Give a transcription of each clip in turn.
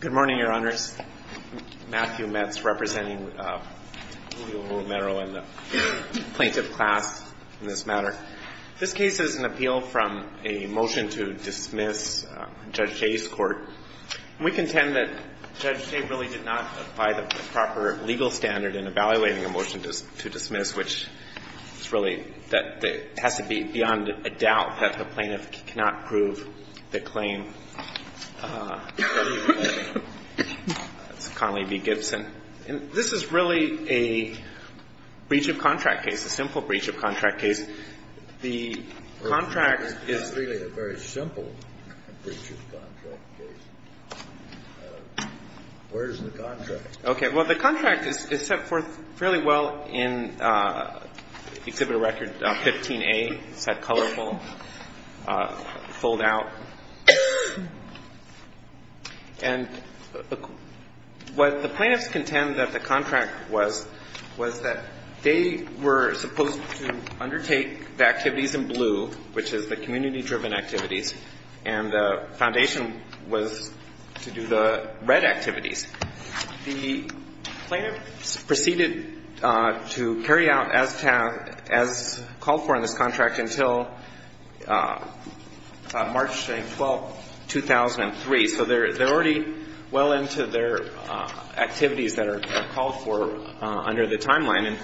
Good morning, Your Honors. Matthew Metz representing Julio Romero and the plaintiff class in this matter. This case is an appeal from a motion to dismiss Judge Jay's court. We contend that Judge Jay really did not apply the proper legal standard in evaluating a motion to dismiss, which is really that it has to be beyond a doubt that the plaintiff cannot prove the claim. That's Connelly v. Gibson. And this is really a breach of contract case, a simple breach of contract case. The contract is It's really a very simple breach of contract case. Where is the contract? Okay. Well, the contract is set forth fairly well in Exhibit Record 15A, set colorful, fold out. And what the plaintiffs contend that the contract was, was that they were supposed to undertake the activities in blue, which is the community-driven activities, and the foundation was to do the red activities. The plaintiffs proceeded to carry out as called for in this contract until March 12, 2003. So they're already well into their activities that are called for under the timeline. And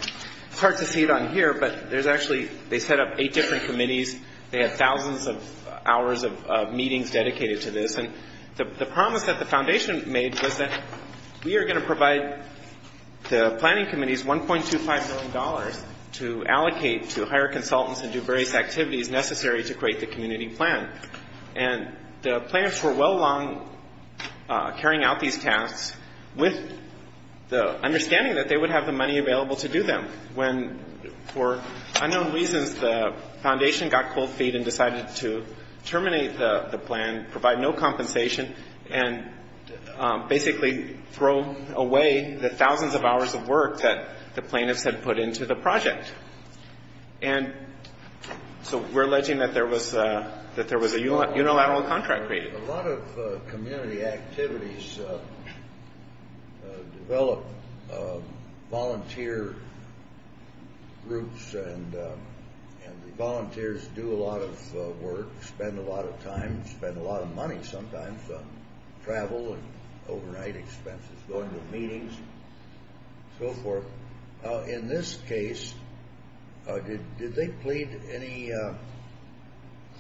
it's hard to see it on here, but there's actually they set up eight different committees. They had thousands of hours of meetings dedicated to this. And the promise that the foundation made was that we are going to provide the planning committee's $1.25 million to allocate to hire consultants and do various activities necessary to create the community plan. And the plaintiffs were well along carrying out these tasks with the understanding that they would have the money available to do them when, for unknown reasons, the foundation got cold feet and decided to terminate the plan, provide no compensation, and basically throw away the thousands of hours of work that the plaintiffs had put into the project. And so we're alleging that there was a unilateral contract created. A lot of community activities develop volunteer groups, and the volunteers do a lot of work, spend a lot of time, spend a lot of money sometimes, travel, and overnight expenses, going to meetings, and so forth. In this case, did they plead any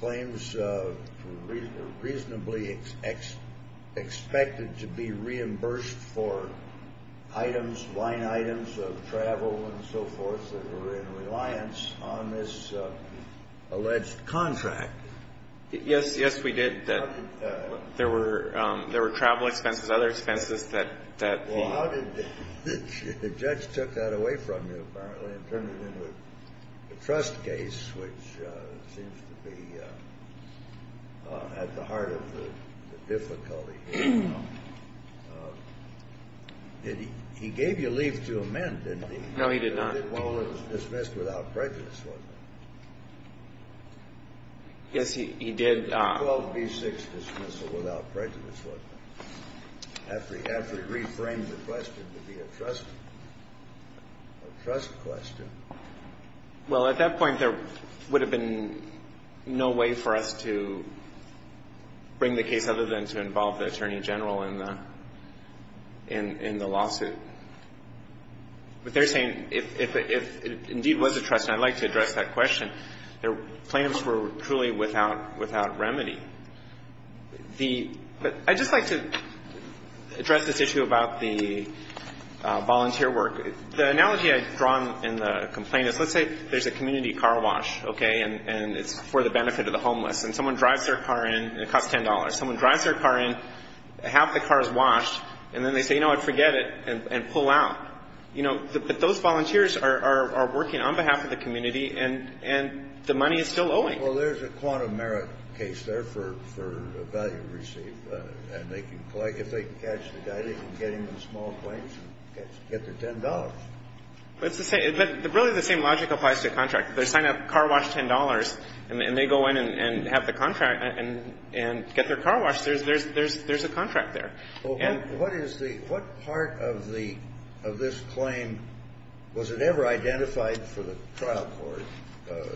claims reasonably expected to be reimbursed for items, line items, and so forth, that were in reliance on this alleged contract? Yes, yes, we did. There were travel expenses, other expenses that the... Well, how did the judge took that away from you, apparently, and turn it into a trust case, which seems to be at the heart of the difficulty? He gave you leave to amend, didn't he? No, he did not. Well, it was dismissed without prejudice, wasn't it? Yes, he did. 12B6 dismissal without prejudice, wasn't it? After he reframed the question to be a trust question. Well, at that point, there would have been no way for us to bring the case other than to involve the Attorney General in the lawsuit. But they're saying, if it indeed was a trust, and I'd like to address that question, the plaintiffs were truly without remedy. But I'd just like to address this issue about the volunteer work. The analogy I've drawn in the complaint is, let's say there's a community car wash, okay, and it's for the benefit of the homeless. And someone drives their car in, and it costs $10. Someone drives their car in, half the car is washed, and then they say, you know what, forget it, and pull out. You know, but those volunteers are working on behalf of the community, and the money is still owing them. Well, there's a quantum merit case there for value received. And if they can catch the guy, they can get him in a small place and get their $10. But really the same logic applies to a contract. They sign a car wash $10, and they go in and have the contract and get their car washed. There's a contract there. What part of this claim was it ever identified for the trial court, the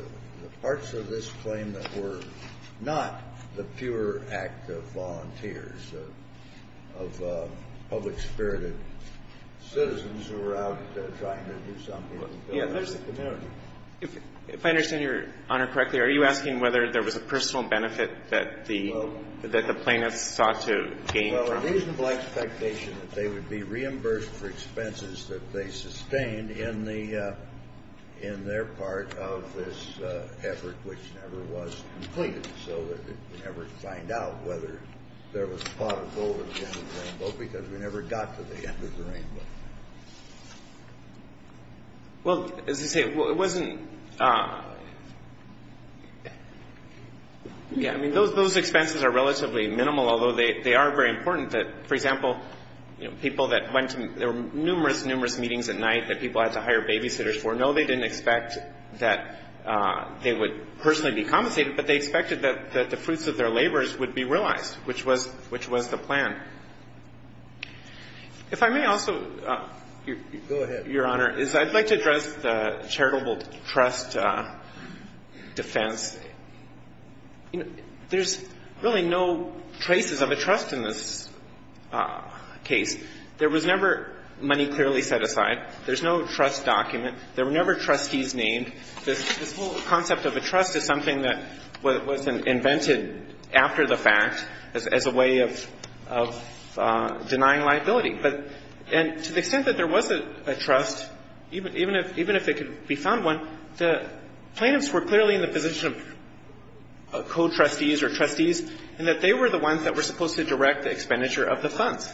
parts of this claim that were not the pure act of volunteers, of public-spirited citizens who were out trying to do something for the community? If I understand Your Honor correctly, are you asking whether there was a personal benefit that the plaintiffs sought to gain from it? Well, it is my expectation that they would be reimbursed for expenses that they sustained in their part of this effort, which never was completed, so that we never find out whether there was a pot of gold at the end of the rainbow, because we never got to the end of the rainbow. Well, as I say, it wasn't – yeah, I mean, those expenses are relatively minimal, although they are very important that, for example, people that went to numerous, numerous meetings at night that people had to hire babysitters for, no, they didn't expect that they would personally be compensated, but they expected that the fruits of their labors would be realized, which was the plan. If I may also, Your Honor, is I'd like to address the charitable trust defense. You know, there's really no traces of a trust in this case. There was never money clearly set aside. There's no trust document. There were never trustees named. This whole concept of a trust is something that was invented after the fact as a way of denying liability. And to the extent that there was a trust, even if it could be found one, the plaintiffs were clearly in the position of co-trustees or trustees, and that they were the ones that were supposed to direct the expenditure of the funds.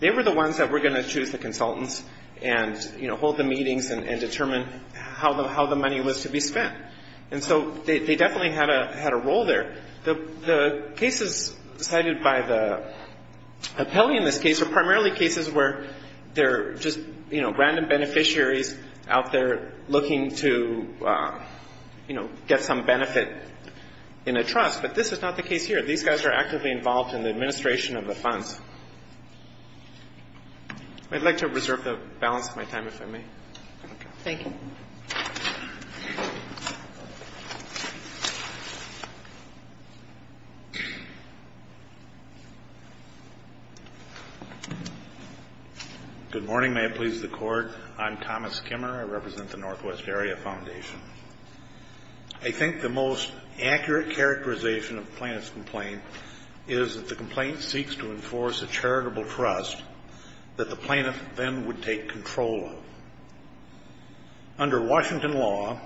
They were the ones that were going to choose the consultants and, you know, hold the meetings and determine how the money was to be spent. And so they definitely had a role there. The cases cited by the appellee in this case are primarily cases where they're just, you know, get some benefit in a trust, but this is not the case here. These guys are actively involved in the administration of the funds. I'd like to reserve the balance of my time, if I may. Thank you. Good morning. May it please the Court. I'm Thomas Kimmer. I represent the Northwest Area Foundation. I think the most accurate characterization of the plaintiff's complaint is that the complaint seeks to enforce a charitable trust that the plaintiff then would take control of. Under Washington law,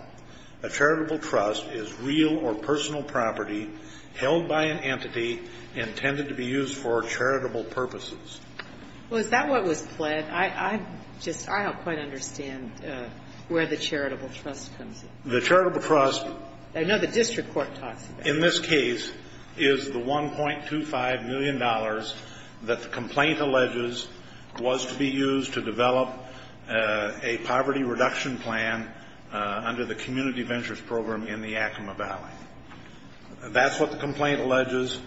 a charitable trust is real or personal property held by an entity intended to be used for charitable purposes. Well, is that what was pled? I don't quite understand where the charitable trust comes in. The charitable trust. I know the district court talks about it. In this case is the $1.25 million that the complaint alleges was to be used to develop a poverty reduction plan under the community ventures program in the Yakima Valley. That's what the complaint alleges.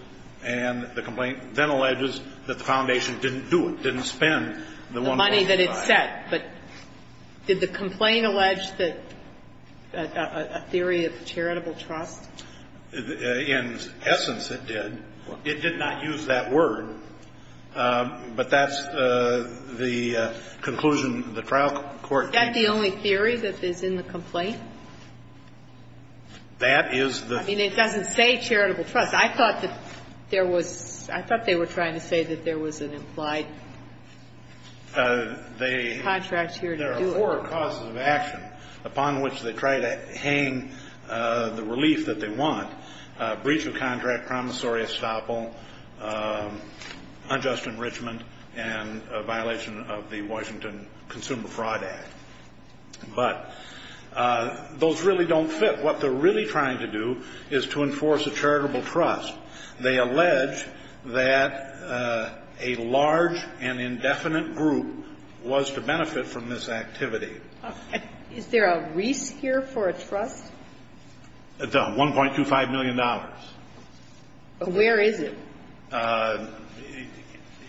And the complaint then alleges that the foundation didn't do it, didn't spend the $1.25. The money that it set. But did the complaint allege a theory of charitable trust? In essence, it did. It did not use that word. But that's the conclusion the trial court came to. Is that the only theory that is in the complaint? That is the. I mean, it doesn't say charitable trust. I thought that there was – I thought they were trying to say that there was an implied contract here to do it. There are four causes of action upon which they try to hang the relief that they want, breach of contract, promissory estoppel, unjust enrichment, and a violation of the Washington Consumer Fraud Act. But those really don't fit. What they're really trying to do is to enforce a charitable trust. They allege that a large and indefinite group was to benefit from this activity. Is there a risk here for a trust? $1.25 million. Where is it?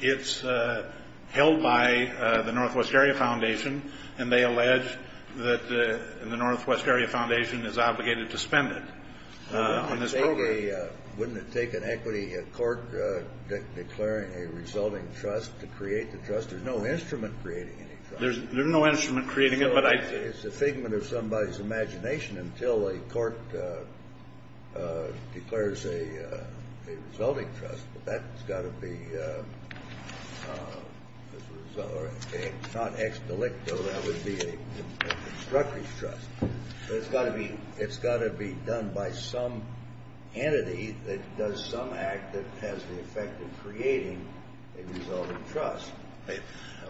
It's held by the Northwest Area Foundation, and they allege that the Northwest Area Foundation is obligated to spend it on this program. Wouldn't it take an equity court declaring a resulting trust to create the trust? There's no instrument creating any trust. There's no instrument creating it, but I – It's a figment of somebody's imagination until a court declares a resulting trust. Well, that's got to be – it's not ex delicto. That would be a constructive trust. It's got to be done by some entity that does some act that has the effect of creating a resulting trust.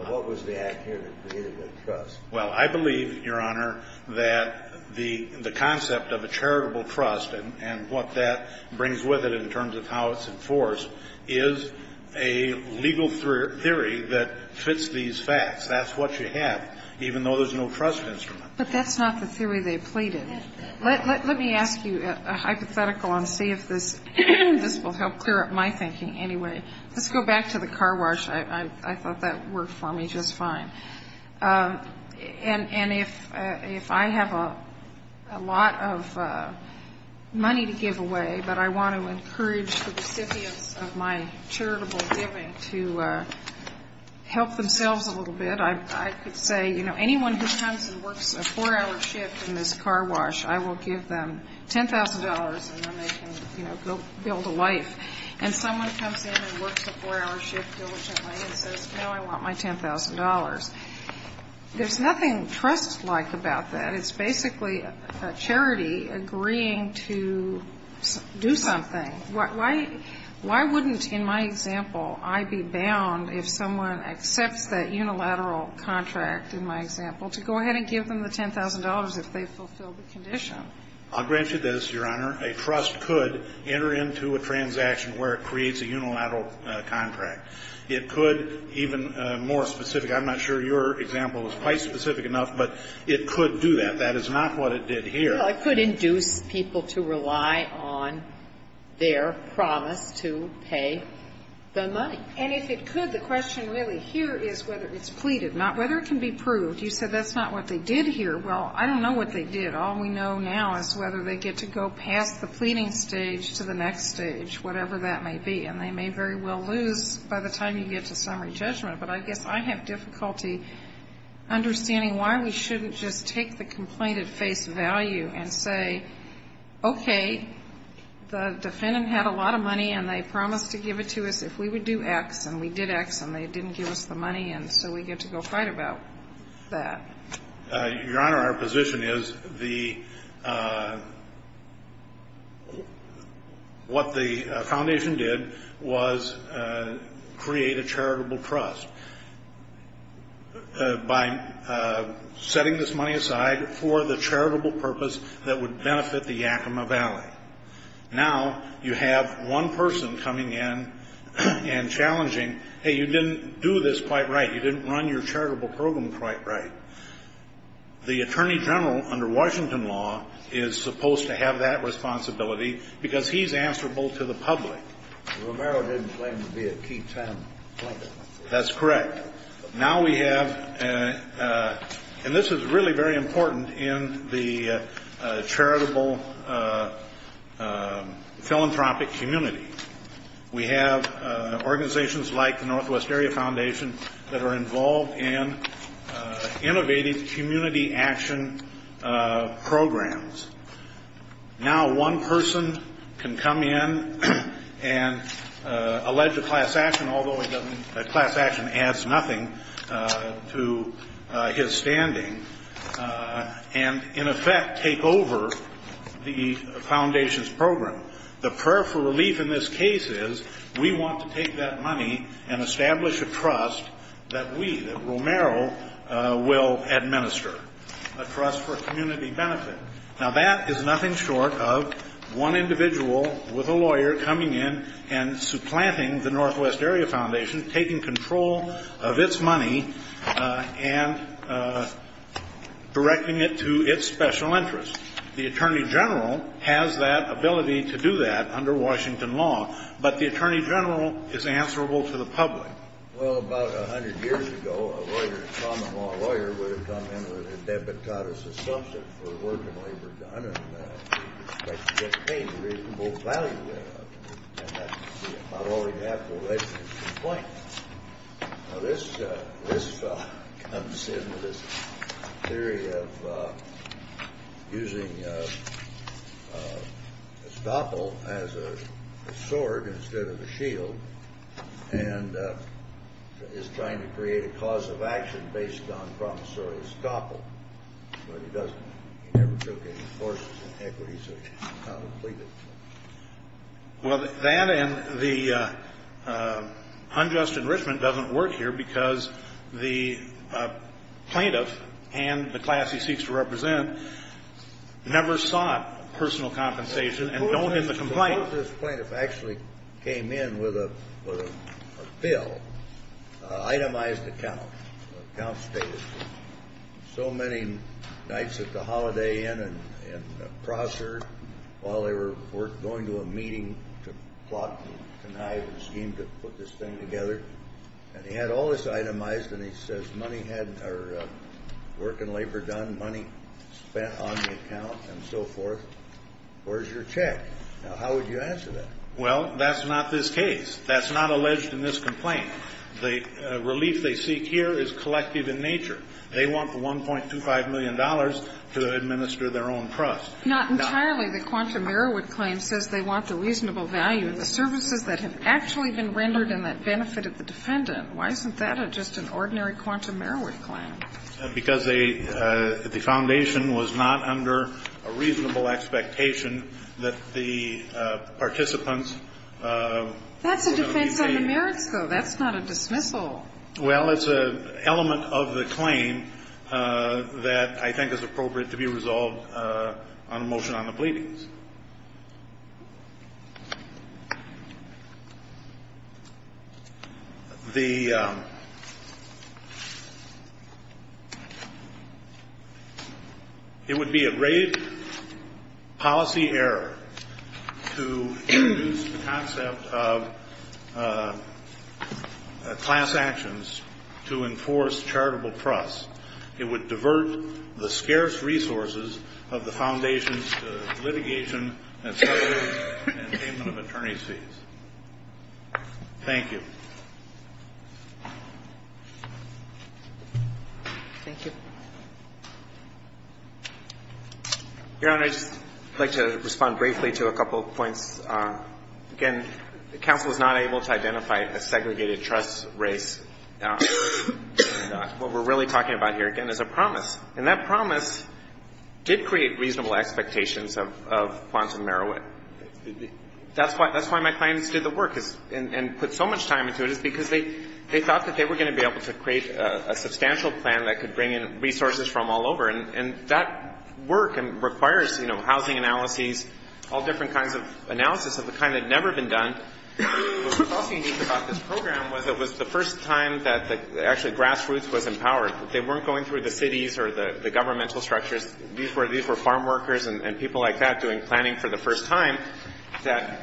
What was the act here that created the trust? Well, I believe, Your Honor, that the concept of a charitable trust and what that brings with it in terms of how it's enforced is a legal theory that fits these facts. That's what you have, even though there's no trust instrument. But that's not the theory they pleaded. Let me ask you a hypothetical and see if this will help clear up my thinking anyway. Let's go back to the car wash. I thought that worked for me just fine. And if I have a lot of money to give away, but I want to encourage the recipients of my charitable giving to help themselves a little bit, I could say, you know, anyone who comes and works a four-hour shift in this car wash, I will give them $10,000 and then they can, you know, go build a life. And someone comes in and works a four-hour shift diligently and says, no, I want my $10,000. There's nothing trustlike about that. It's basically a charity agreeing to do something. Why wouldn't, in my example, I be bound, if someone accepts that unilateral contract in my example, to go ahead and give them the $10,000 if they fulfill the condition? I'll grant you this, Your Honor. A trust could enter into a transaction where it creates a unilateral contract. It could even more specifically, I'm not sure your example is quite specific enough, but it could do that. That is not what it did here. Well, it could induce people to rely on their promise to pay the money. And if it could, the question really here is whether it's pleaded, not whether it can be proved. You said that's not what they did here. Well, I don't know what they did. All we know now is whether they get to go past the pleading stage to the next stage, whatever that may be. And they may very well lose by the time you get to summary judgment. But I guess I have difficulty understanding why we shouldn't just take the complaint at face value and say, okay, the defendant had a lot of money and they promised to give it to us if we would do X, and we did X and they didn't give us the money, and so we get to go fight about that. Your Honor, our position is what the foundation did was create a charitable trust by setting this money aside for the charitable purpose that would benefit the Yakima Valley. Now you have one person coming in and challenging, hey, you didn't do this quite right. You didn't run your charitable program quite right. The attorney general under Washington law is supposed to have that responsibility because he's answerable to the public. Romero didn't claim to be a key time player. That's correct. Now we have, and this is really very important in the charitable philanthropic community. We have organizations like the Northwest Area Foundation that are involved in innovative community action programs. Now one person can come in and allege a class action, although a class action adds nothing to his standing, and in effect take over the foundation's program. The prayer for relief in this case is we want to take that money and establish a trust that we, that Romero, will administer, a trust for community benefit. Now that is nothing short of one individual with a lawyer coming in and supplanting the Northwest Area Foundation, taking control of its money and directing it to its special interests. The attorney general has that ability to do that under Washington law, but the attorney general is answerable to the public. Well, about 100 years ago, a lawyer, a common law lawyer, would have come in with an epitodus assumption for working labor done and expected to get paid reasonable value out of it. And that would be about all he'd have for a registered complaint. Now this comes in with this theory of using a stoppel as a sword instead of a shield and is trying to create a cause of action based on promissory stoppel, but he doesn't. He never took any courses in equity, so he can't complete it. Well, that and the unjust enrichment doesn't work here because the plaintiff and the class he seeks to represent never sought personal compensation and don't get the complaint. This plaintiff actually came in with a bill, itemized account, account status. So many nights at the Holiday Inn and Prosser, while they were going to a meeting to plot and connive and scheme to put this thing together, and he had all this itemized and he says money had, or working labor done, money spent on the account and so forth. Where's your check? Now, how would you answer that? Well, that's not this case. That's not alleged in this complaint. The relief they seek here is collective in nature. They want the $1.25 million to administer their own trust. Not entirely. The Quantum Merriwood claim says they want the reasonable value and the services that have actually been rendered in that benefit of the defendant. Why isn't that just an ordinary Quantum Merriwood claim? Because the foundation was not under a reasonable expectation that the participants would be paid. That's a defense on the merits, though. That's not a dismissal. Well, it's an element of the claim that I think is appropriate to be resolved on a motion on the pleadings. It would be a grave policy error to use the concept of class actions to enforce charitable trust. It would divert the scarce resources of the foundations to litigation and salary and attainment of attorney's fees. Thank you. Thank you. Your Honor, I'd just like to respond briefly to a couple of points. Again, counsel is not able to identify a segregated trust race. What we're really talking about here, again, is a promise. And that promise did create reasonable expectations of Quantum Merriwood. That's why my clients did the work and put so much time into it, is because they thought that they were going to be able to create a substantial plan that could bring in resources from all over. And that work requires, you know, housing analyses, all different kinds of analysis of the kind that had never been done. What was also unique about this program was it was the first time that actually grassroots was empowered. They weren't going through the cities or the governmental structures. These were farm workers and people like that doing planning for the first time that,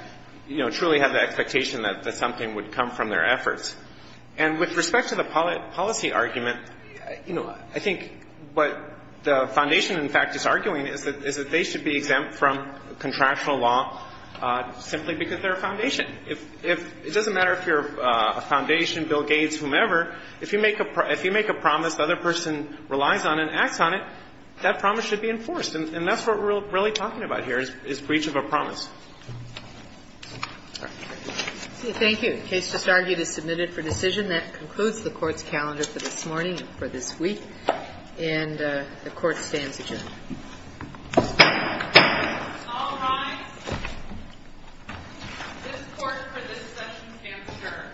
you know, truly had the expectation that something would come from their efforts. And with respect to the policy argument, you know, I think what the foundation, in fact, is arguing is that they should be exempt from contractual law simply because they're a foundation. It doesn't matter if you're a foundation, Bill Gates, whomever. If you make a promise the other person relies on and acts on it, that promise should be enforced. And that's what we're really talking about here is breach of a promise. All right. Thank you. The case just argued is submitted for decision. That concludes the Court's calendar for this morning and for this week. And the Court stands adjourned. All rise. This Court for this session stands adjourned. Thank you.